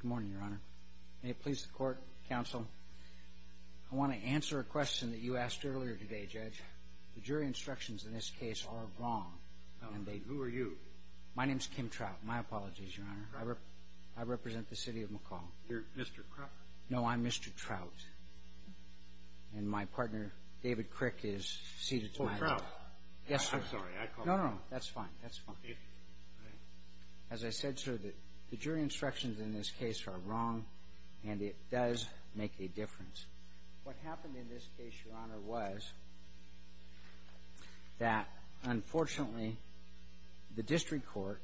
Good morning your honor. May it please the court, counsel. I want to answer a question that you asked earlier today, Judge. The jury instructions in this case are wrong. Who are you? My name is Kim Trout. My apologies, your honor. I represent the city of McCall. You're Mr. Trout? No, I'm Mr. Trout and my partner David Crick is seated. Oh, Trout. Yes, sir. I'm sorry. No, no, that's fine. As I said, sir, the jury instructions in this case are wrong and it does make a difference. What happened in this case, your honor, was that unfortunately the district court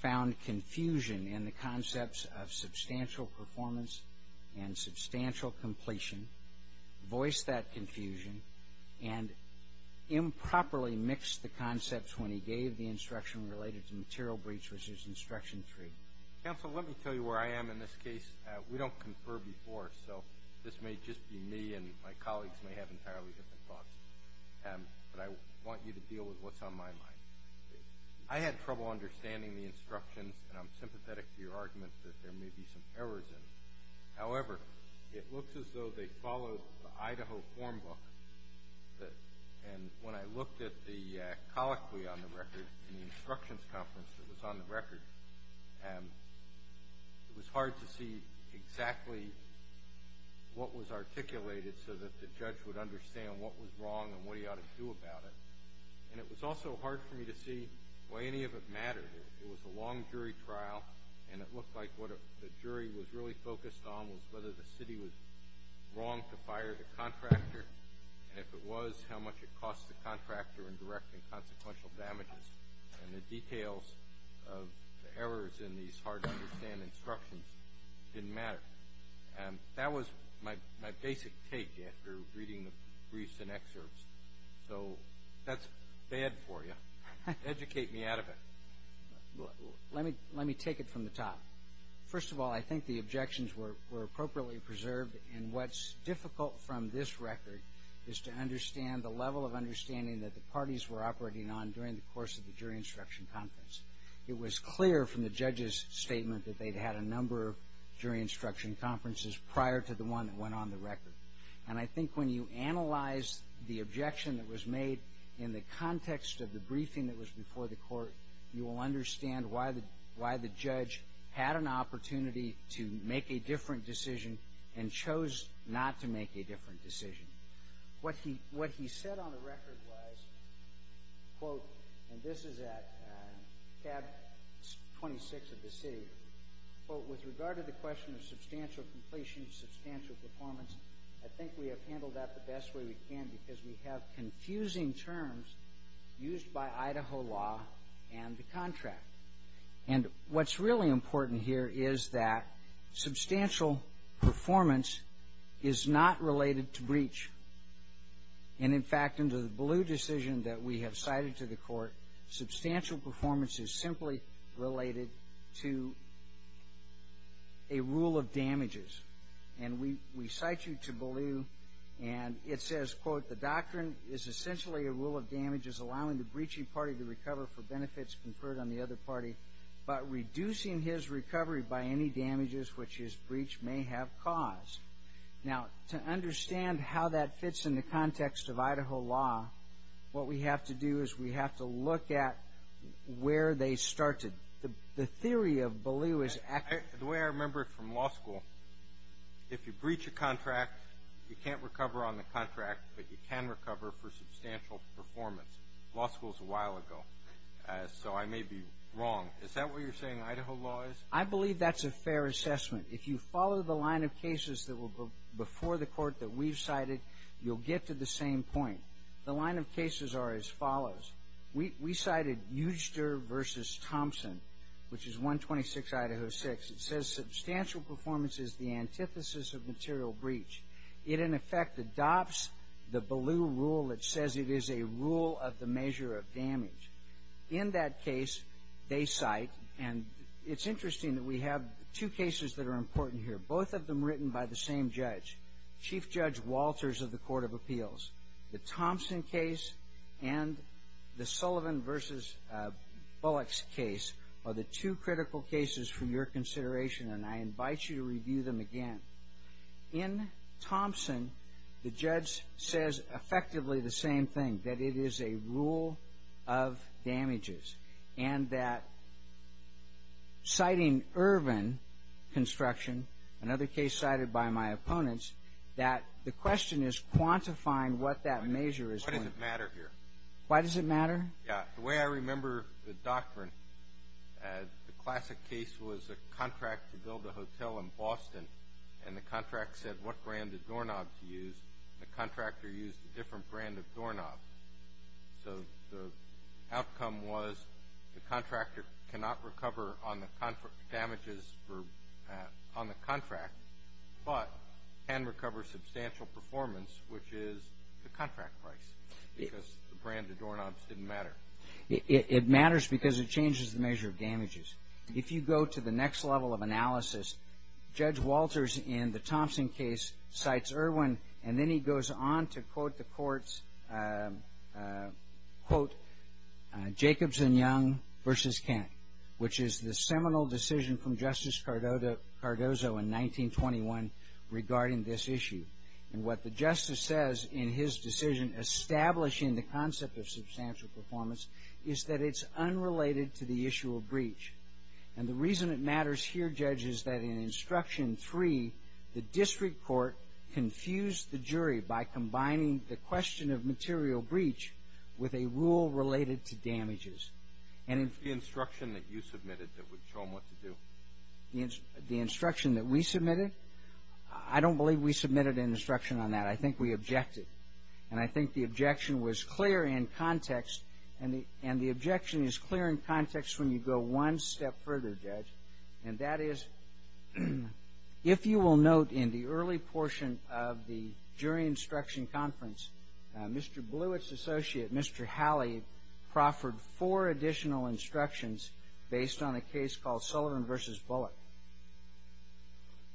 found confusion in the concepts of substantial performance and substantial completion, voiced that confusion, and improperly mixed the instruction related to material breach, which is instruction three. Counsel, let me tell you where I am in this case. We don't confer before, so this may just be me and my colleagues may have entirely different thoughts, but I want you to deal with what's on my mind. I had trouble understanding the instructions and I'm sympathetic to your argument that there may be some errors in it. However, it looks as though they follow the Idaho form book, and when I looked at the record, the instructions conference that was on the record, it was hard to see exactly what was articulated so that the judge would understand what was wrong and what he ought to do about it, and it was also hard for me to see why any of it mattered. It was a long jury trial and it looked like what the jury was really focused on was whether the city was wrong to fire the contractor, and if it was, how much it cost the contractor in direct and consequential damages, and the details of the errors in these hard to understand instructions didn't matter. And that was my basic take after reading the briefs and excerpts, so that's bad for you. Educate me out of it. Let me take it from the top. First of all, I think the objections were the level of understanding that the parties were operating on during the course of the jury instruction conference. It was clear from the judge's statement that they'd had a number of jury instruction conferences prior to the one that went on the record, and I think when you analyze the objection that was made in the context of the briefing that was before the court, you will understand why the judge had an opportunity to make a different decision and chose not to make a different decision. What he said on the record was, and this is at tab 26 of the city, with regard to the question of substantial completion, substantial performance, I think we have handled that the best way we can because we have confusing terms used by Idaho law and the contract. And what's really important here is that substantial performance is not related to breach. And in fact, under the Ballew decision that we have cited to the court, substantial performance is simply related to a rule of damages. And we cite you to Ballew, and it says, quote, the doctrine is essentially a rule of damages allowing the breaching party to recover for benefits conferred on the other party, but reducing his recovery by any damages which his breach may have caused. Now, to understand how that fits in the context of Idaho law, what we have to do is we have to look at where they started. The theory of Ballew is actually... The way I remember it from law school, if you breach a contract, you can't recover on the contract, but you can recover for substantial performance. Law school is a Is that what you're saying Idaho law is? I believe that's a fair assessment. If you follow the line of cases that were before the court that we've cited, you'll get to the same point. The line of cases are as follows. We cited Euster v. Thompson, which is 126 Idaho 6. It says substantial performance is the antithesis of material breach. It, in effect, adopts the Ballew rule that says it is a rule of the measure of damage. In that case, they cite, and it's interesting that we have two cases that are important here, both of them written by the same judge, Chief Judge Walters of the Court of Appeals. The Thompson case and the Sullivan v. Bullock's case are the two critical cases for your consideration, and I invite you to review them again. In Thompson, the judge says effectively the same thing, that it is a rule of damages, and that citing Ervin construction, another case cited by my opponents, that the question is quantifying what that measure is. Why does it matter here? Why does it matter? Yeah, the way I remember the doctrine, the classic case was a contract to build a hotel in Boston, and the contract said what brand of doorknobs to use. The contractor used a different brand of doorknobs, so the outcome was the contractor cannot recover on the damages on the contract, but can recover substantial performance, which is the contract price, because the brand of doorknobs didn't matter. It matters because it changes the measure of damages. If you go to the next level of analysis, Judge Walters in the Thompson case cites Ervin, and then he goes on to quote Jacobs and Young v. Kent, which is the seminal decision from Justice Cardozo in 1921 regarding this issue, and what the justice says in his decision establishing the concept of substantial performance is that it's unrelated to the issue of breach, and the reason it matters here, Judge, is that in Instruction 3, the district court confused the jury by combining the question of material breach with a rule related to damages, and in the instruction that you submitted that would show them what to do. The instruction that we submitted? I don't believe we submitted an instruction on that. I think we objected, and I think the objection was clear in context, and the objection is clear in context when you go one step further, Judge, and that is if you will note in the early portion of the jury instruction conference, Mr. Blewett's associate, Mr. Halley, proffered four additional instructions based on a case called Sullivan v. Bullock.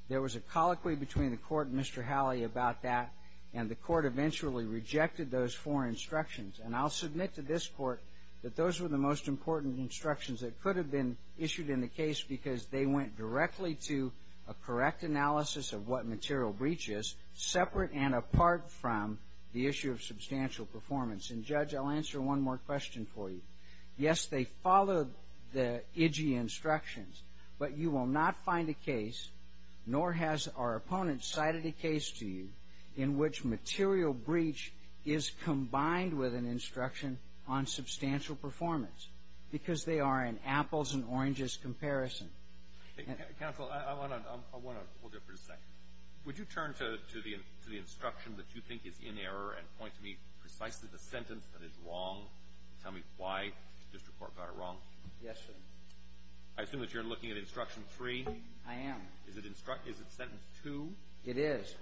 There was a colloquy between the court and Mr. Halley about that, and the court eventually rejected those four instructions, and I'll submit to this court that those were the most important instructions that could have been issued in the case because they went directly to a correct analysis of what material breach is, separate and apart from the issue of substantial performance, and, Judge, I'll answer one more question for you. Yes, they followed the IDG instructions, but you will not find a case, nor has our opponent cited a case to you in which material breach is combined with an instruction on substantial performance because they are in apples and oranges comparison. Counsel, I want to go for a second. Would you turn to the instruction that you think is in error and point to me precisely the sentence that is wrong and tell me why the district court got it wrong? Yes, sir. I assume that you're looking at instruction three? I am. Is it sentence two? It is.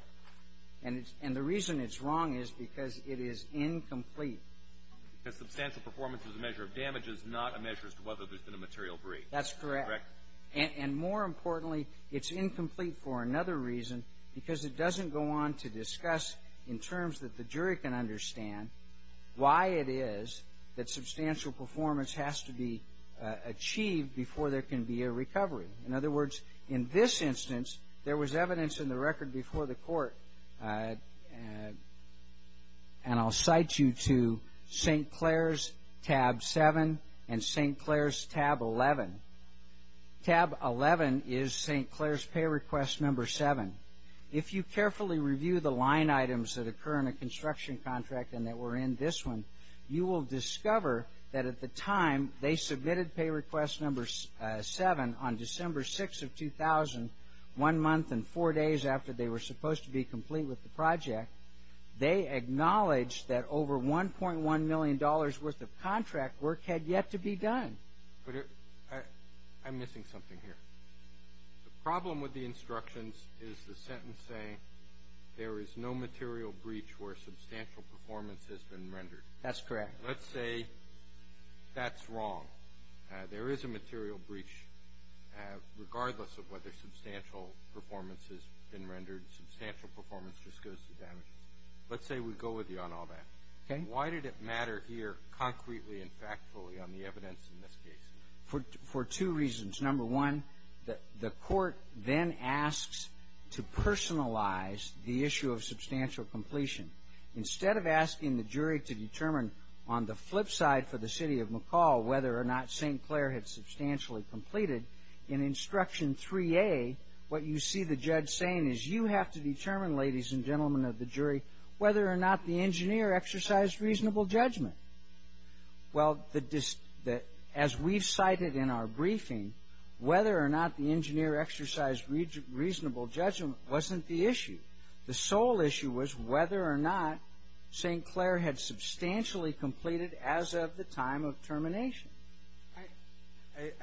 And the reason it's wrong is because it is incomplete. Because substantial performance is a measure of damages, not a measure as to whether there's been a material breach. That's correct. Correct. And more importantly, it's incomplete for another reason because it doesn't go on to discuss in terms that the jury can understand why it is that substantial performance has to be achieved before there can be a recovery. In other words, in this instance, there was evidence in the record before the court, and I'll cite you to St. Clair's tab seven and St. Clair's tab 11. Tab 11 is St. Clair's pay request number seven. If you carefully review the line items that occur in a construction contract and that were in this one, you will discover that at the time they submitted pay request number seven on December 6th of 2000, one month and four days after they were supposed to be complete with the project, they acknowledged that over $1.1 million worth of contract work had yet to be done. But I'm missing something here. The problem with the instructions is the sentence saying there is no material breach where substantial performance has been rendered. That's correct. Let's say that's wrong. There is a material breach regardless of whether substantial performance has been rendered. Substantial performance just goes to damage. Let's say we go with you on all that. Okay. Why did it matter here concretely and factfully on the evidence in this case? For two reasons. Number one, the court then asks to personalize the issue of substantial completion. Instead of asking the jury to determine on the flip side for the city of McCall whether or not St. Clair had substantially completed, in instruction 3A, what you see the judge saying is you have to determine, ladies and gentlemen of the jury, whether or not the engineer exercised reasonable judgment. Well, as we've cited in our briefing, whether or not the engineer exercised reasonable judgment wasn't the issue. The sole issue was whether or not St. I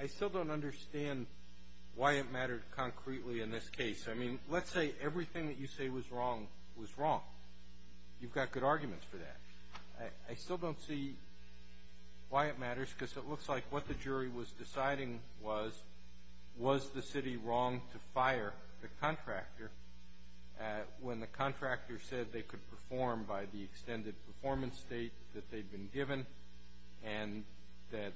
still don't understand why it mattered concretely in this case. I mean, let's say everything that you say was wrong was wrong. You've got good arguments for that. I still don't see why it matters because it looks like what the jury was deciding was, was the city wrong to fire the contractor when the contractor said they could perform by the extended performance date that they'd been given and that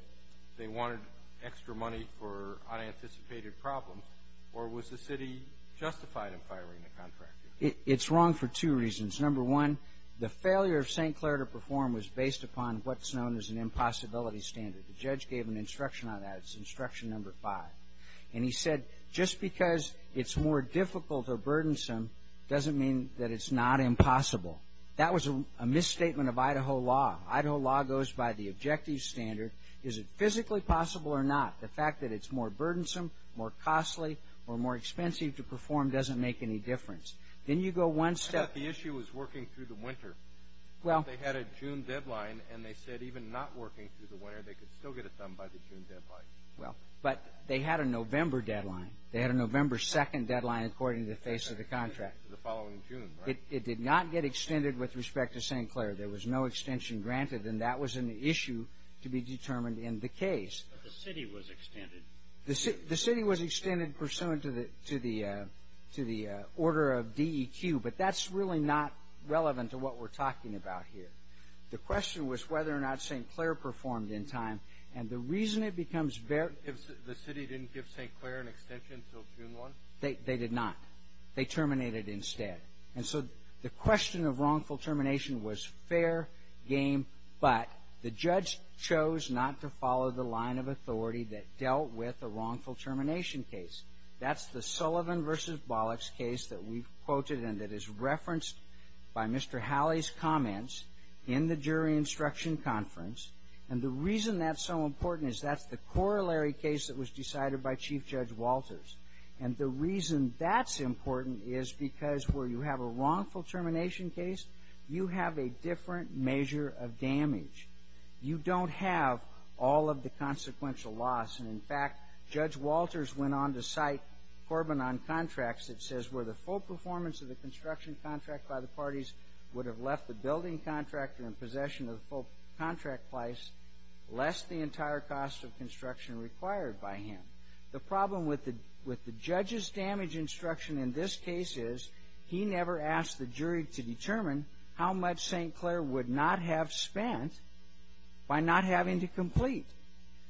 they wanted extra money for unanticipated problems? Or was the city justified in firing the contractor? It's wrong for two reasons. Number one, the failure of St. Clair to perform was based upon what's known as an impossibility standard. The judge gave an instruction on that. It's instruction number 5. And he said just because it's more difficult or burdensome doesn't mean that it's not impossible. That was a misstatement of Idaho law. Idaho law goes by the objective standard. Is it physically possible or not? The fact that it's more burdensome, more costly, or more expensive to perform doesn't make any difference. Then you go one step. I thought the issue was working through the winter. Well. But they had a June deadline and they said even not working through the winter they could still get it done by the June deadline. Well, but they had a November deadline. They had a November 2nd deadline according to the face of the contract. It did not get extended with respect to St. Clair. There was no extension granted. And that was an issue to be determined in the case. But the city was extended. The city was extended pursuant to the order of DEQ. But that's really not relevant to what we're talking about here. The question was whether or not St. Clair performed in time. And the reason it becomes very. If the city didn't give St. Clair an extension until June 1? They did not. They terminated instead. And so the question of wrongful termination was fair game. But the judge chose not to follow the line of authority that dealt with a wrongful termination case. That's the Sullivan v. Bollocks case that we quoted and that is referenced by Mr. Halley's comments in the jury instruction conference. And the reason that's so important is that's the corollary case that was decided by Chief Judge Walters. And the reason that's important is because where you have a wrongful termination case, you have a different measure of damage. You don't have all of the consequential loss. And, in fact, Judge Walters went on to cite Corbin on contracts that says where the full performance of the construction contract by the parties would have left the building contractor in possession of the full contract price less the entire cost of construction required by him. The problem with the judge's damage instruction in this case is he never asked the jury to determine how much St. Clair would not have spent by not having to complete.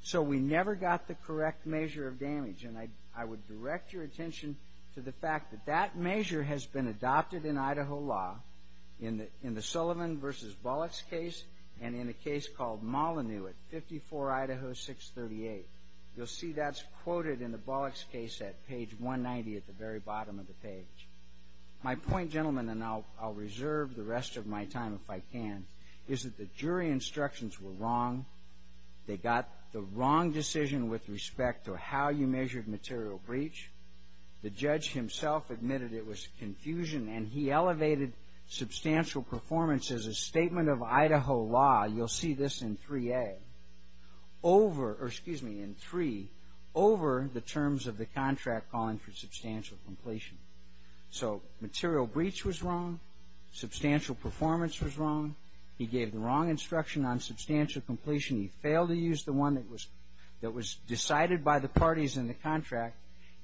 So we never got the correct measure of damage. And I would direct your attention to the fact that that measure has been adopted in Idaho law in the Sullivan v. Bollocks case and in a case called Molyneux at 54 Idaho 638. You'll see that's quoted in the Bollocks case at page 190 at the very bottom of the page. My point, gentlemen, and I'll reserve the rest of my time if I can, is that the jury instructions were wrong. They got the wrong decision with respect to how you measured material breach. The judge himself admitted it was confusion, and he elevated substantial performance as a statement of Idaho law. You'll see this in 3A over, or excuse me, in 3, over the terms of the contract calling for substantial completion. So material breach was wrong. Substantial performance was wrong. He gave the wrong instruction on substantial completion. He failed to use the one that was decided by the parties in the contract,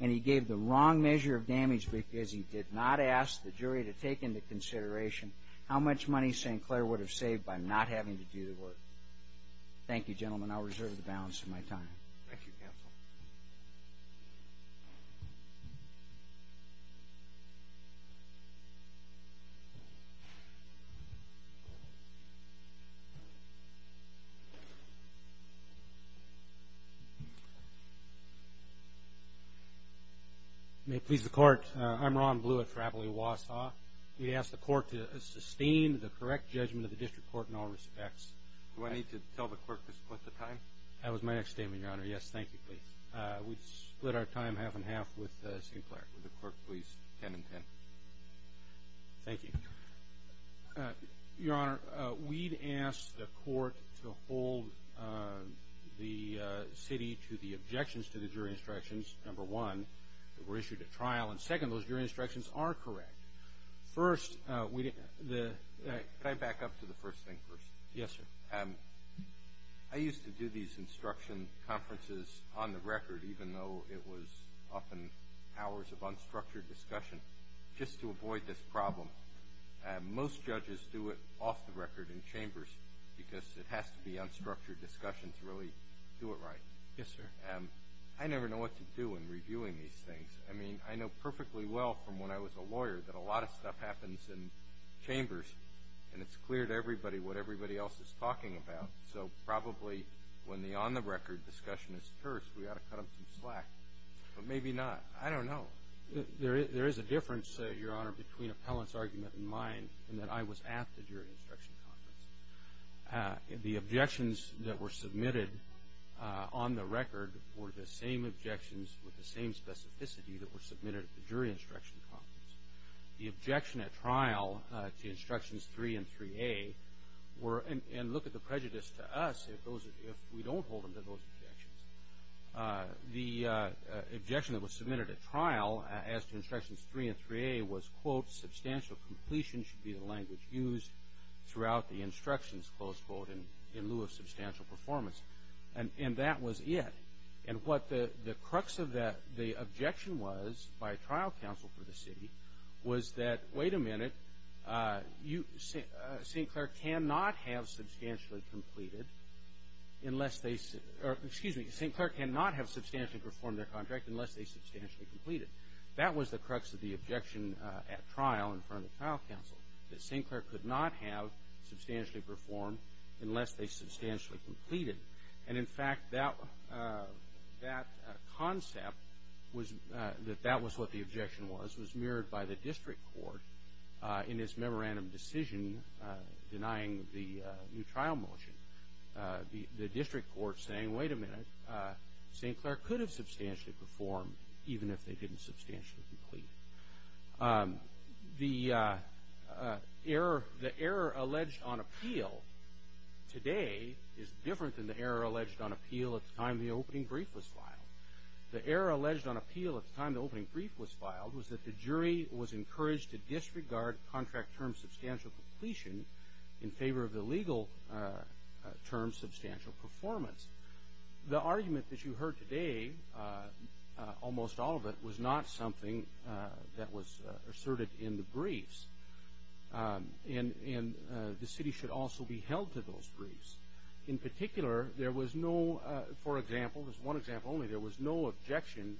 and he gave the wrong measure of damage because he did not ask the jury to take into consideration how much money St. Clair would have saved by not having to do the work. Thank you, gentlemen. I'll reserve the balance of my time. Thank you, counsel. May it please the Court. I'm Ron Blewett for Appley-Wausau. We'd ask the Court to sustain the correct judgment of the district court in all respects. Do I need to tell the Court to split the time? That was my next statement, Your Honor. Yes, thank you, please. We've split our time half and half with St. Clair. Would the Court please 10 and 10? Thank you. Your Honor, we'd ask the Court to hold the city to the objections to the jury instructions, number one, that were issued at trial, and second, those jury instructions. First, we didn't... Could I back up to the first thing first? Yes, sir. I used to do these instruction conferences on the record, even though it was often hours of unstructured discussion, just to avoid this problem. Most judges do it off the record in chambers because it has to be unstructured discussion to really do it right. Yes, sir. I never know what to do in reviewing these things. I mean, I know perfectly well from when I was a lawyer that a lot of stuff happens in chambers, and it's clear to everybody what everybody else is talking about. So probably when the on-the-record discussion is first, we ought to cut them some slack. But maybe not. I don't know. There is a difference, Your Honor, between Appellant's argument and mine, in that I was at the jury instruction conference. The objections that were submitted on the record were the same objections with the same specificity that were submitted at the jury instruction conference. The objection at trial to Instructions 3 and 3A were, and look at the prejudice to us if we don't hold them to those objections. The objection that was submitted at trial as to Instructions 3 and 3A was, quote, substantial completion should be the language used throughout the instructions, close quote, in lieu of substantial performance. And that was it. And what the crux of the objection was by trial counsel for the city was that, wait a minute, St. Clair cannot have substantially performed their contract unless they substantially complete it. That was the crux of the objection at trial in front of trial counsel, that St. Clair could not have substantially performed unless they substantially complete it. And, in fact, that concept, that that was what the objection was, was mirrored by the district court in its memorandum decision denying the new trial motion. The district court saying, wait a minute, St. Clair could have substantially performed even if they didn't substantially complete it. The error alleged on appeal today is different than the error alleged on appeal at the time the opening brief was filed. The error alleged on appeal at the time the opening brief was filed was that the jury was encouraged to disregard contract term substantial completion in favor of the legal term substantial performance. The argument that you heard today, almost all of it, was not something that was asserted in the briefs. And the city should also be held to those briefs. In particular, there was no, for example, this is one example only, there was no objection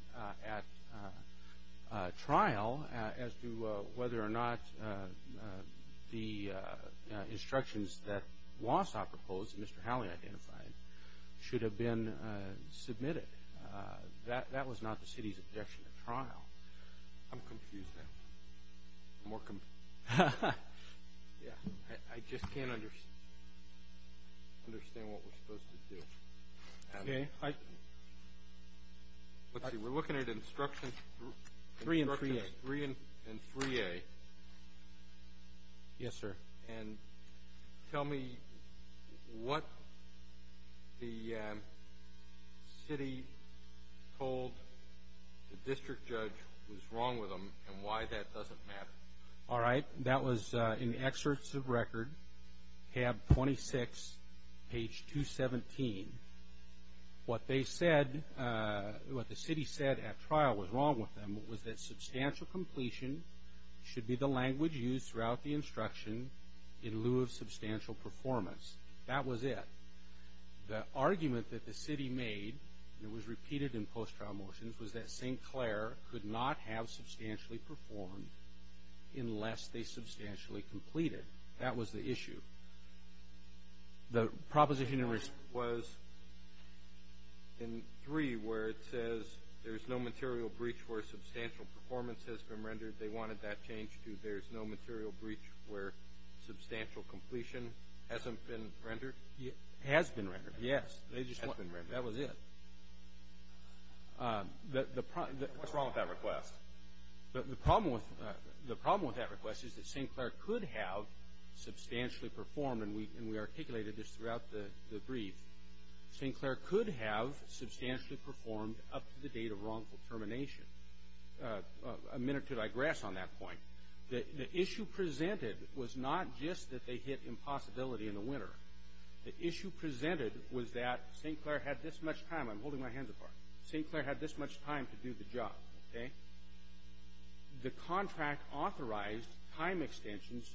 at trial as to whether or not the instructions that Wausau proposed and Mr. Howley identified should have been submitted. That was not the city's objection at trial. I'm confused now. I just can't understand what we're supposed to do. We're looking at instructions 3 and 3A. Yes, sir. And tell me what the city told the district judge was wrong with them and why that doesn't matter. All right. That was in the excerpts of record, tab 26, page 217. What they said, what the city said at trial was wrong with them was that in lieu of substantial performance. That was it. The argument that the city made, and it was repeated in post-trial motions, was that St. Clair could not have substantially performed unless they substantially completed. That was the issue. The proposition in response was in 3 where it says there's no material breach where substantial performance has been rendered. They wanted that changed to there's no material breach where substantial completion hasn't been rendered? Has been rendered. Yes. That was it. What's wrong with that request? The problem with that request is that St. Clair could have substantially performed, and we articulated this throughout the brief. St. Clair could have substantially performed up to the date of wrongful termination. A minute to digress on that point. The issue presented was not just that they hit impossibility in the winter. The issue presented was that St. Clair had this much time. I'm holding my hands apart. St. Clair had this much time to do the job, okay? The contract authorized time extensions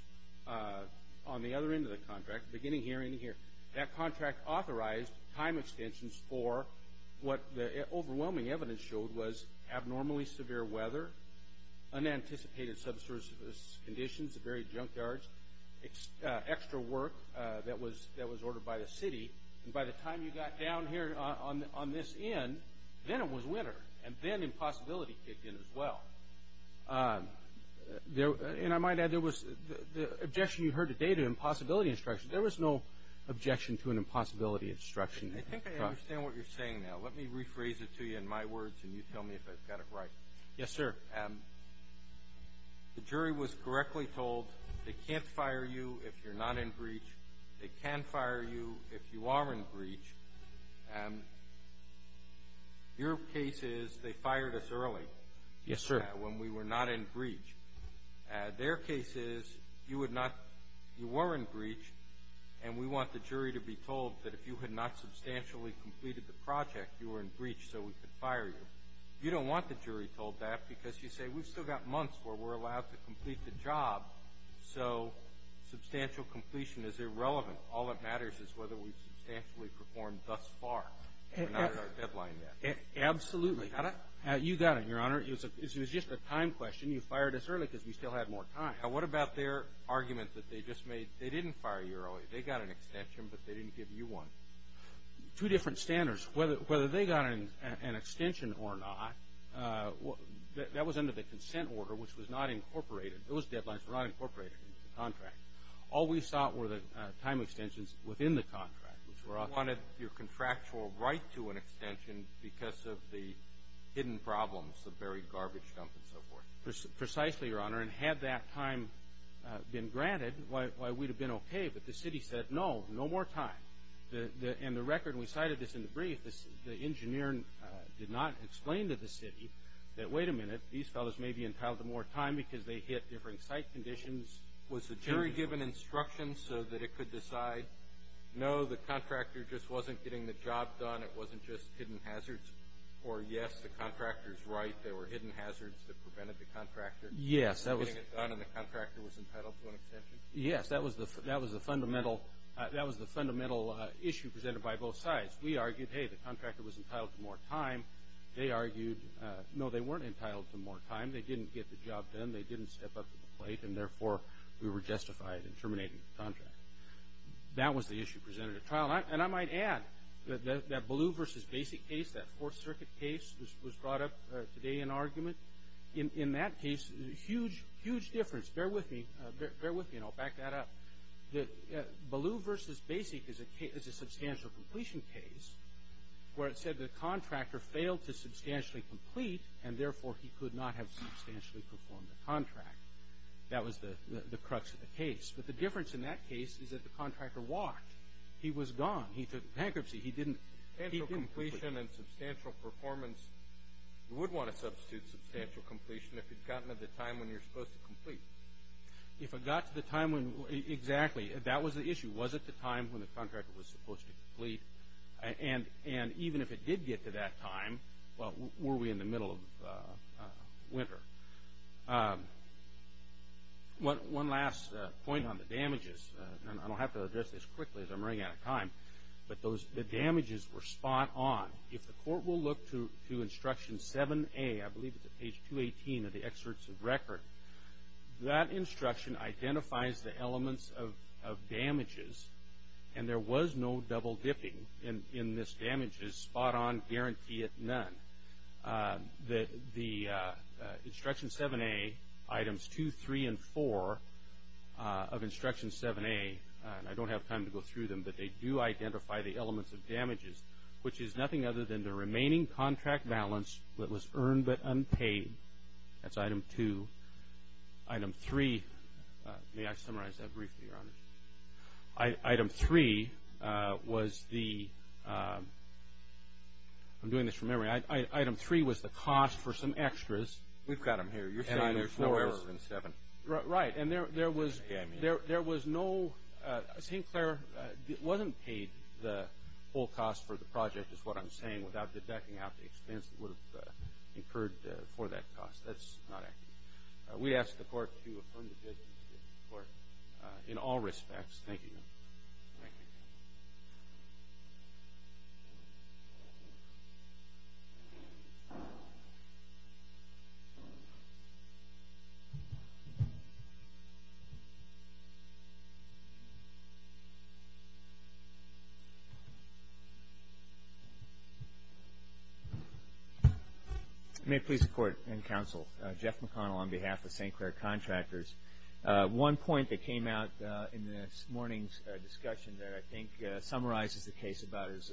on the other end of the contract, beginning here and here. That contract authorized time extensions for what the overwhelming evidence showed was abnormally severe weather, unanticipated subsurface conditions, varied junkyards, extra work that was ordered by the city. And by the time you got down here on this end, then it was winter. And then impossibility kicked in as well. And I might add, the objection you heard today to impossibility instruction, there was no objection to an impossibility instruction. I think I understand what you're saying now. Let me rephrase it to you in my words, and you tell me if I've got it right. Yes, sir. The jury was correctly told they can't fire you if you're not in breach. They can fire you if you are in breach. Your case is they fired us early. Yes, sir. When we were not in breach. Their case is you would not you were in breach, and we want the jury to be told that if you had not substantially completed the project, you were in breach so we could fire you. You don't want the jury told that because you say we've still got months where we're allowed to complete the job, so substantial completion is irrelevant. All that matters is whether we've substantially performed thus far. We're not at our deadline yet. Absolutely. We got it? You got it, Your Honor. It was just a time question. You fired us early because we still had more time. Now, what about their argument that they just made they didn't fire you early. They got an extension, but they didn't give you one. Two different standards. Whether they got an extension or not, that was under the consent order, which was not incorporated. Those deadlines were not incorporated into the contract. All we sought were the time extensions within the contract. You wanted your contractual right to an extension because of the hidden problems, Precisely, Your Honor. and had that time been granted, why we'd have been okay, but the city said no, no more time. And the record, we cited this in the brief, the engineer did not explain to the city that, wait a minute, these fellows may be entitled to more time because they hit different site conditions. Was the jury given instructions so that it could decide, no, the contractor just wasn't getting the job done, it wasn't just hidden hazards, or yes, the contractor's right, there were hidden hazards that prevented the contractor. Yes, that was. From getting it done and the contractor was entitled to an extension? Yes, that was the fundamental issue presented by both sides. We argued, hey, the contractor was entitled to more time. They argued, no, they weren't entitled to more time. They didn't get the job done. They didn't step up to the plate, and therefore, we were justified in terminating the contract. That was the issue presented at trial. And I might add that blue versus basic case, that Fourth Circuit case was brought up today in argument. In that case, huge, huge difference. Bear with me. Bear with me, and I'll back that up. Blue versus basic is a substantial completion case where it said the contractor failed to substantially complete, and therefore, he could not have substantially performed the contract. That was the crux of the case. But the difference in that case is that the contractor walked. He was gone. He took bankruptcy. Substantial completion and substantial performance, you would want to substitute substantial completion if it got to the time when you're supposed to complete. If it got to the time when, exactly, that was the issue. Was it the time when the contractor was supposed to complete? And even if it did get to that time, well, were we in the middle of winter? One last point on the damages, and I don't have to address this quickly as I'm running out of time, but the damages were spot on. If the court will look to instruction 7A, I believe it's at page 218 of the excerpts of record, that instruction identifies the elements of damages, and there was no double dipping in this damages, spot on, guarantee it, none. The instruction 7A items 2, 3, and 4 of instruction 7A, and I don't have time to go through them, but they do identify the elements of damages, which is nothing other than the remaining contract balance that was earned but unpaid. That's item 2. Item 3, may I summarize that briefly, Your Honor? Item 3 was the, I'm doing this from memory, item 3 was the cost for some extras. We've got them here. And there's no error in 7. Right. And there was no, St. Clair wasn't paid the whole cost for the project is what I'm saying without deducting out the expense that would have occurred for that cost. That's not accurate. We ask the court to affirm the judgment of the court in all respects. Thank you, Your Honor. Thank you. May it please the Court and counsel, Jeff McConnell on behalf of St. Clair Contractors. One point that came out in this morning's discussion that I think summarizes the case about as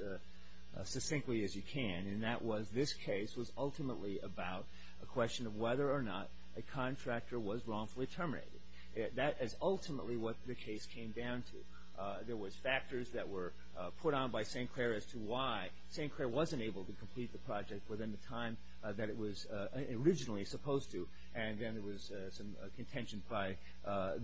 succinctly as you can, and that was this case was ultimately about a question of whether or not a contractor was wrongfully terminated. That is ultimately what the case came down to. There was factors that were put on by St. Clair as to why St. Clair wasn't able to complete the project within the time that it was originally supposed to. And then there was some contention by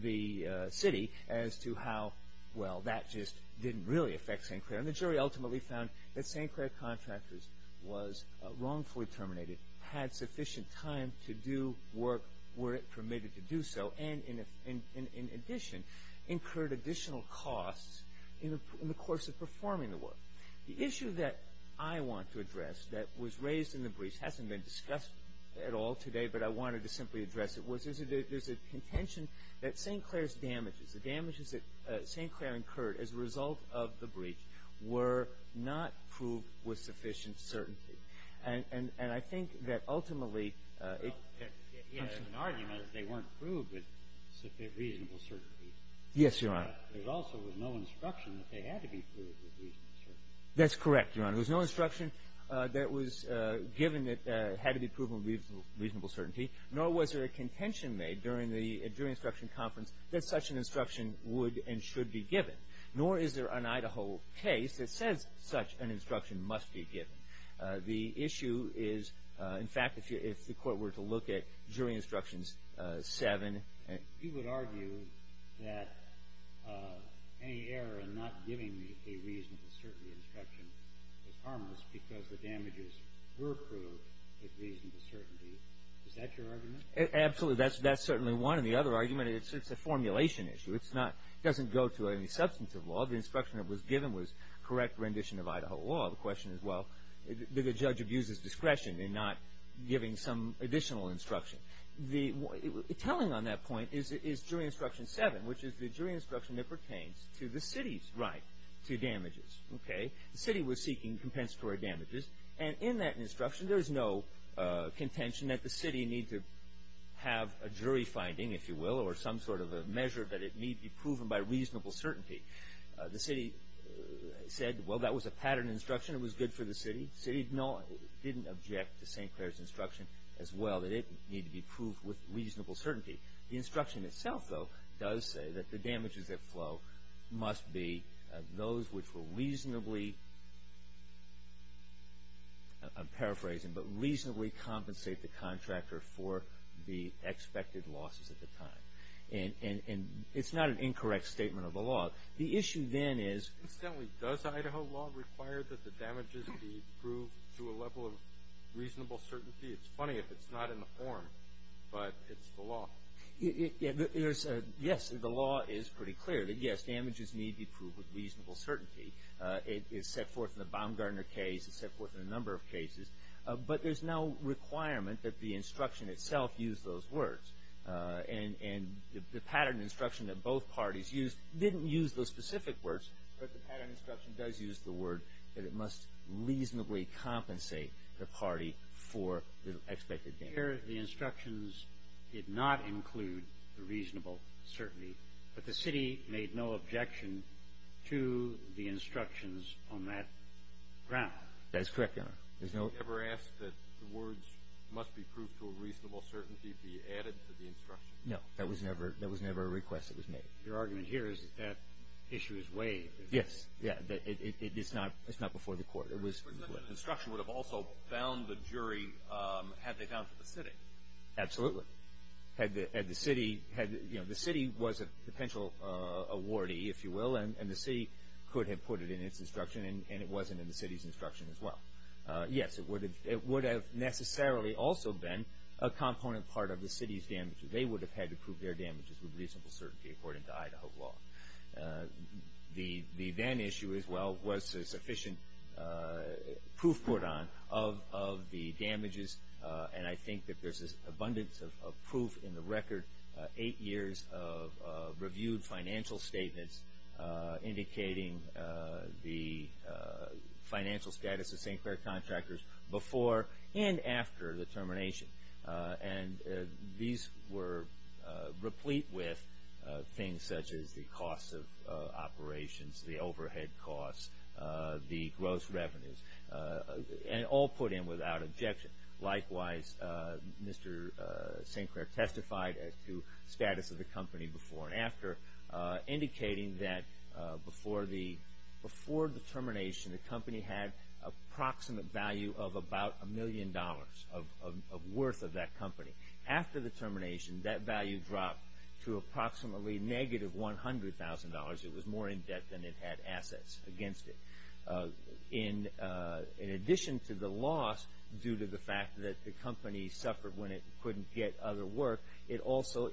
the city as to how, well, that just didn't really affect St. Clair. And the jury ultimately found that St. Clair Contractors was wrongfully terminated, had sufficient time to do work where it permitted to do so, and in addition incurred additional costs in the course of performing the work. The issue that I want to address that was raised in the briefs hasn't been discussed at all today, but I wanted to simply address it, was there's a contention that St. Clair's damages, the damages that St. Clair incurred as a result of the breach, were not proved with sufficient certainty. And I think that ultimately it comes from the argument that they weren't proved with reasonable certainty. Yes, Your Honor. There also was no instruction that they had to be proved with reasonable certainty. That's correct, Your Honor. There was no instruction that was given that had to be proven with reasonable certainty, nor was there a contention made during the jury instruction conference that such an instruction would and should be given. Nor is there an Idaho case that says such an instruction must be given. The issue is, in fact, if the Court were to look at Jury Instructions 7. You would argue that any error in not giving a reasonable certainty instruction is harmless because the damages were proved with reasonable certainty. Is that your argument? Absolutely. That's certainly one. And the other argument, it's a formulation issue. It doesn't go to any substantive law. The instruction that was given was correct rendition of Idaho law. The question is, well, did the judge abuse his discretion in not giving some additional instruction? The telling on that point is Jury Instruction 7, which is the jury instruction that pertains to the city's right to damages. The city was seeking compensatory damages. And in that instruction, there's no contention that the city need to have a jury finding, if you will, or some sort of a measure that it need be proven by reasonable certainty. The city said, well, that was a pattern instruction. It was good for the city. The city didn't object to St. Clair's instruction as well, that it need to be proved with reasonable certainty. The instruction itself, though, does say that the damages that flow must be those which will reasonably, I'm paraphrasing, but reasonably compensate the contractor for the expected losses at the time. And it's not an incorrect statement of the law. The issue then is- Incidentally, does Idaho law require that the damages be proved to a level of reasonable certainty? It's funny if it's not in the form, but it's the law. Yes, the law is pretty clear that, yes, damages need be proved with reasonable certainty. It's set forth in the Baumgartner case. It's set forth in a number of cases. But there's no requirement that the instruction itself use those words. And the pattern instruction that both parties used didn't use those specific words, but the pattern instruction does use the word that it must reasonably compensate the party for the expected damage. Here the instructions did not include the reasonable certainty, but the city made no objection to the instructions on that ground. That is correct, Your Honor. Has the court ever asked that the words must be proved to a reasonable certainty be added to the instruction? No, that was never a request that was made. Your argument here is that that issue is waived. Yes. It's not before the court. But the instruction would have also bound the jury had they gone for the city. Absolutely. Had the city, you know, the city was a potential awardee, if you will, and the city could have put it in its instruction, and it wasn't in the city's instruction as well. Yes, it would have necessarily also been a component part of the city's damages. They would have had to prove their damages with reasonable certainty, according to Idaho law. The then issue as well was a sufficient proof put on of the damages, and I think that there's an abundance of proof in the record, eight years of reviewed financial statements indicating the financial status of St. Clair contractors before and after the termination. And these were replete with things such as the costs of operations, the overhead costs, the gross revenues, and all put in without objection. Likewise, Mr. St. Clair testified to status of the company before and after, indicating that before the termination, the company had approximate value of about a million dollars of worth of that company. After the termination, that value dropped to approximately negative $100,000. It was more in debt than it had assets against it. In addition to the loss due to the fact that the company suffered when it couldn't get other work, it also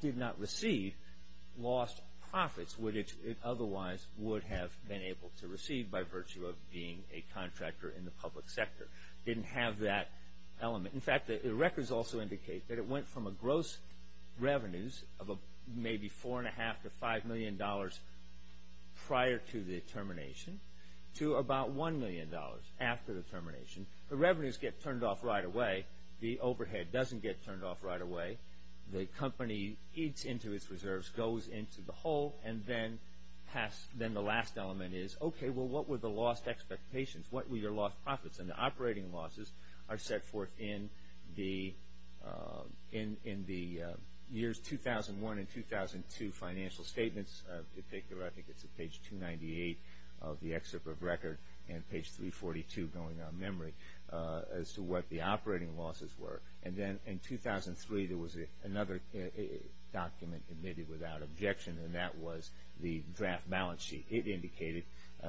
did not receive lost profits which it otherwise would have been able to receive by virtue of being a contractor in the public sector. It didn't have that element. In fact, the records also indicate that it went from a gross revenues of maybe $4.5 to $5 million prior to the termination to about $1 million after the termination. The revenues get turned off right away. The overhead doesn't get turned off right away. The company eats into its reserves, goes into the hole, and then the last element is, okay, well, what were the lost expectations? What were your lost profits? And the operating losses are set forth in the years 2001 and 2002 financial statements. I think it's page 298 of the excerpt of record and page 342 going on memory as to what the operating losses were. And then in 2003, there was another document admitted without objection, and that was the draft balance sheet. It indicated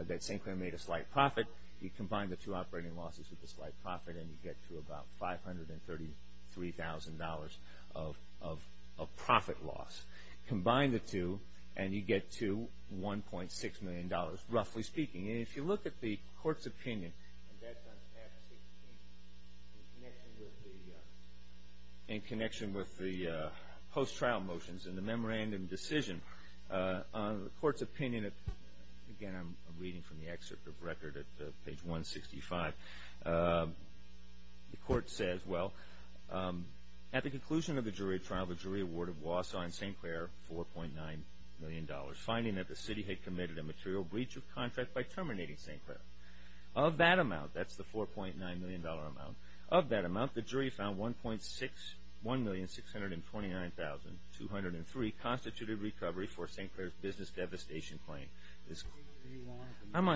that St. Clair made a slight profit. You combine the two operating losses with the slight profit, and you get to about $533,000 of profit loss. Combine the two, and you get to $1.6 million, roughly speaking. And if you look at the court's opinion, and that's on tab 16, in connection with the post-trial motions and the memorandum decision, on the court's opinion, again, I'm reading from the excerpt of record at page 165, the court says, well, at the conclusion of the jury trial, the jury awarded Wausau and St. Clair $4.9 million, finding that the city had committed a material breach of contract by terminating St. Clair. Of that amount, that's the $4.9 million amount, Of that amount, the jury found $1,629,203 constituted recovery for St. Clair's business devastation claim. I'm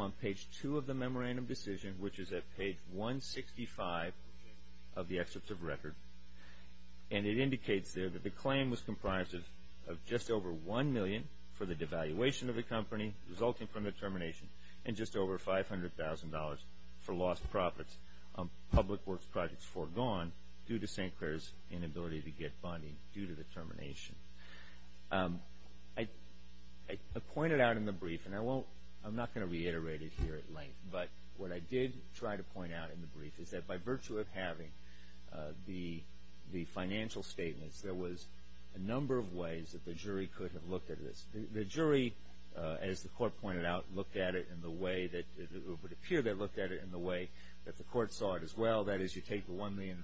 on page 2 of the memorandum decision, which is at page 165 of the excerpt of record. And it indicates there that the claim was comprised of just over $1 million for the devaluation of the company, resulting from the termination, and just over $500,000 for lost profits on public works projects foregone due to St. Clair's inability to get bonding due to the termination. I pointed out in the brief, and I'm not going to reiterate it here at length, but what I did try to point out in the brief is that by virtue of having the financial statements, there was a number of ways that the jury could have looked at this. The jury, as the court pointed out, looked at it in the way that it would appear they looked at it in the way that the court saw it as well. That is, you take the $1 million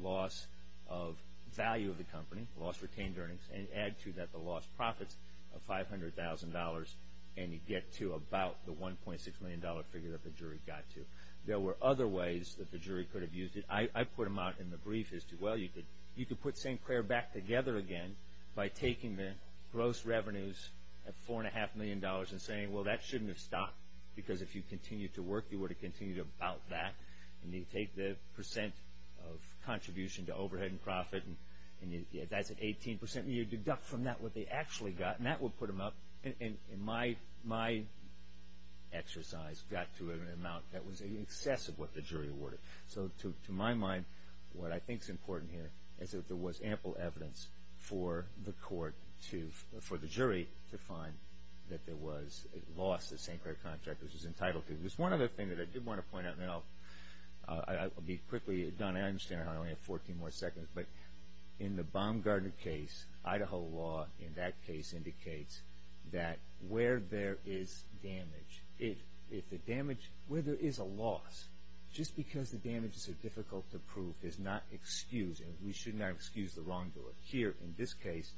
loss of value of the company, lost retained earnings, and add to that the lost profits of $500,000, and you get to about the $1.6 million figure that the jury got to. There were other ways that the jury could have used it. I put them out in the brief as to, well, you could put St. Clair back together again by taking the gross revenues of $4.5 million and saying, well, that shouldn't have stopped, because if you continued to work, you would have continued about that. You take the percent of contribution to overhead and profit, and that's at 18%. You deduct from that what they actually got, and that would put them up. My exercise got to an amount that was in excess of what the jury awarded. So to my mind, what I think is important here is that there was ample evidence for the court to, for the jury, to find that there was a loss that St. Clair Contractors was entitled to. There's one other thing that I did want to point out, and I'll be quickly done. I understand I only have 14 more seconds. But in the Baumgarten case, Idaho law in that case indicates that where there is damage, where there is a loss, just because the damages are difficult to prove is not excused, and we should not excuse the wrongdoer. Here, in this case,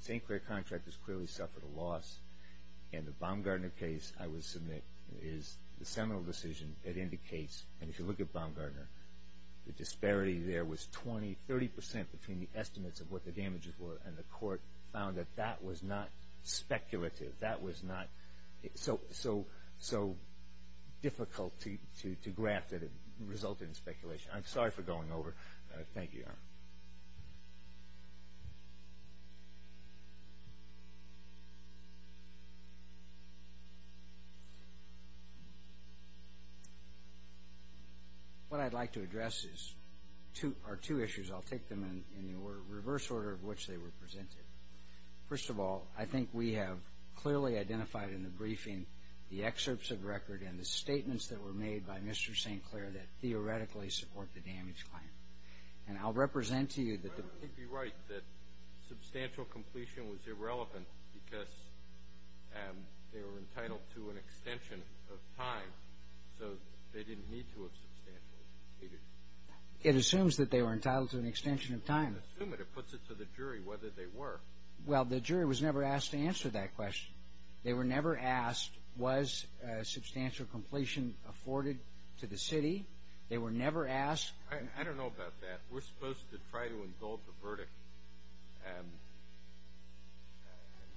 St. Clair Contractors clearly suffered a loss, and the Baumgartner case, I would submit, is the seminal decision that indicates, and if you look at Baumgartner, the disparity there was 20%, 30% between the estimates of what the damages were, and the court found that that was not speculative. That was not so difficult to graph that it resulted in speculation. I'm sorry for going over. Thank you, Your Honor. What I'd like to address are two issues. I'll take them in the reverse order of which they were presented. First of all, I think we have clearly identified in the briefing the excerpts of record and the statements that were made by Mr. St. Clair that theoretically support the damage claim. And I'll represent to you that the ---- Your Honor, you'd be right that substantial completion was irrelevant because they were entitled to an extension of time, so they didn't need to have substantially completed. It assumes that they were entitled to an extension of time. It doesn't assume it. It puts it to the jury whether they were. Well, the jury was never asked to answer that question. They were never asked was substantial completion afforded to the city. They were never asked ---- I don't know about that. We're supposed to try to indulge the verdict and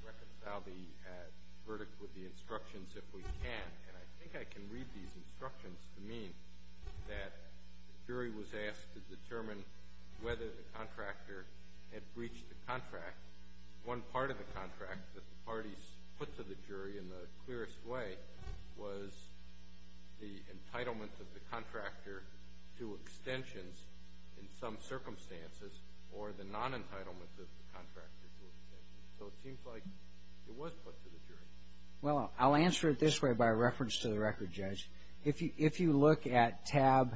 reconcile the verdict with the instructions if we can. And I think I can read these instructions to mean that the jury was asked to determine whether the contractor had breached the contract. One part of the contract that the parties put to the jury in the clearest way was the entitlement of the contractor to extensions in some circumstances or the non-entitlement of the contractor to extensions. So it seems like it was put to the jury. Well, I'll answer it this way by reference to the record, Judge. If you look at tab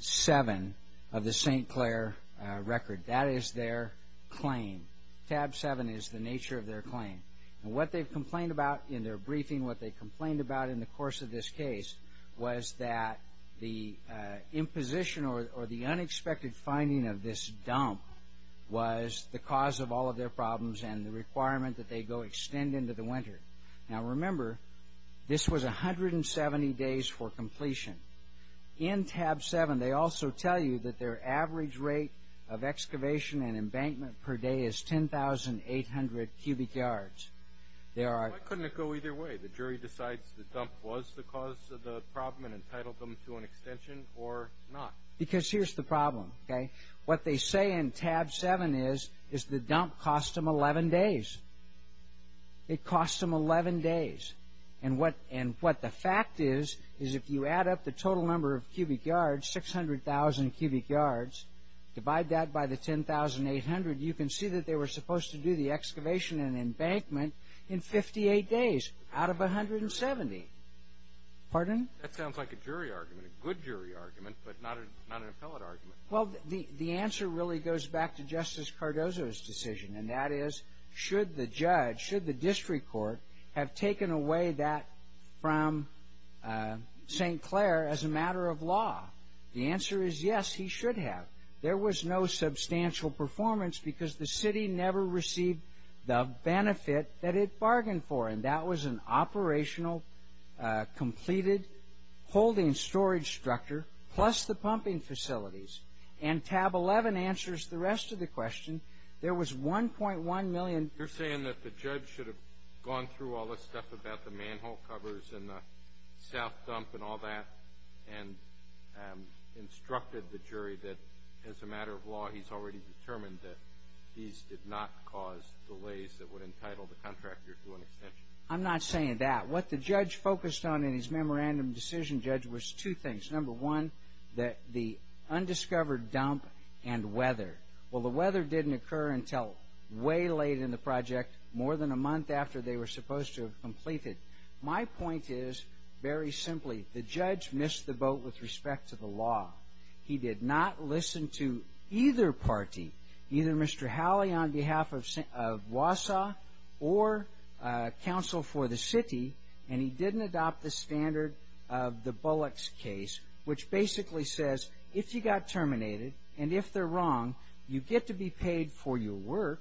7 of the St. Clair record, that is their claim. Tab 7 is the nature of their claim. And what they've complained about in their briefing, what they complained about in the course of this case was that the imposition or the unexpected finding of this dump was the cause of all of their problems and the requirement that they go extend into the winter. Now, remember, this was 170 days for completion. In tab 7, they also tell you that their average rate of excavation and embankment per day is 10,800 cubic yards. Why couldn't it go either way? The jury decides the dump was the cause of the problem and entitled them to an extension or not. Because here's the problem, okay? What they say in tab 7 is the dump cost them 11 days. It cost them 11 days. And what the fact is is if you add up the total number of cubic yards, 600,000 cubic yards, divide that by the 10,800, you can see that they were supposed to do the excavation and embankment in 58 days out of 170. Pardon? That sounds like a jury argument, a good jury argument, but not an appellate argument. Well, the answer really goes back to Justice Cardozo's decision, and that is should the judge, should the district court, have taken away that from St. Clair as a matter of law? The answer is yes, he should have. There was no substantial performance because the city never received the benefit that it bargained for, and that was an operational completed holding storage structure plus the pumping facilities. And tab 11 answers the rest of the question. There was $1.1 million. You're saying that the judge should have gone through all this stuff about the manhole covers and the south dump and all that and instructed the jury that, as a matter of law, he's already determined that these did not cause delays that would entitle the contractor to an extension? I'm not saying that. What the judge focused on in his memorandum decision, Judge, was two things. Number one, the undiscovered dump and weather. Well, the weather didn't occur until way late in the project, more than a month after they were supposed to have completed. My point is, very simply, the judge missed the boat with respect to the law. He did not listen to either party, either Mr. Howley on behalf of Wausau or counsel for the city, and he didn't adopt the standard of the Bullocks case, which basically says, if you got terminated and if they're wrong, you get to be paid for your work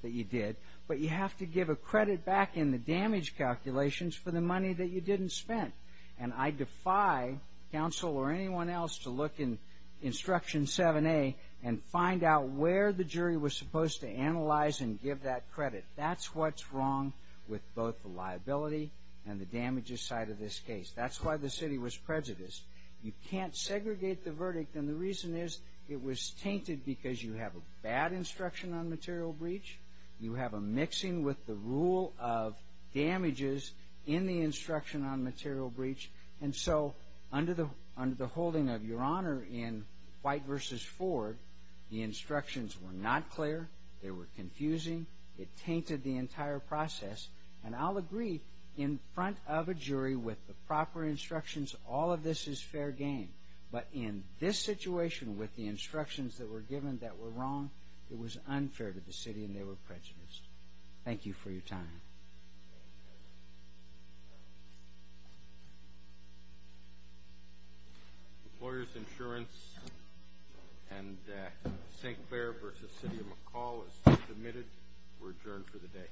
that you did, but you have to give a credit back in the damage calculations for the money that you didn't spend. And I defy counsel or anyone else to look in Instruction 7A and find out where the jury was supposed to analyze and give that credit. That's what's wrong with both the liability and the damages side of this case. That's why the city was prejudiced. You can't segregate the verdict, and the reason is it was tainted because you have a bad instruction on material breach. You have a mixing with the rule of damages in the instruction on material breach. And so under the holding of Your Honor in White v. Ford, the instructions were not clear. They were confusing. It tainted the entire process. And I'll agree in front of a jury with the proper instructions, all of this is fair game. But in this situation with the instructions that were given that were wrong, it was unfair to the city, and they were prejudiced. Thank you for your time. Employers Insurance and St. Clair v. City of McCall as submitted were adjourned for the day.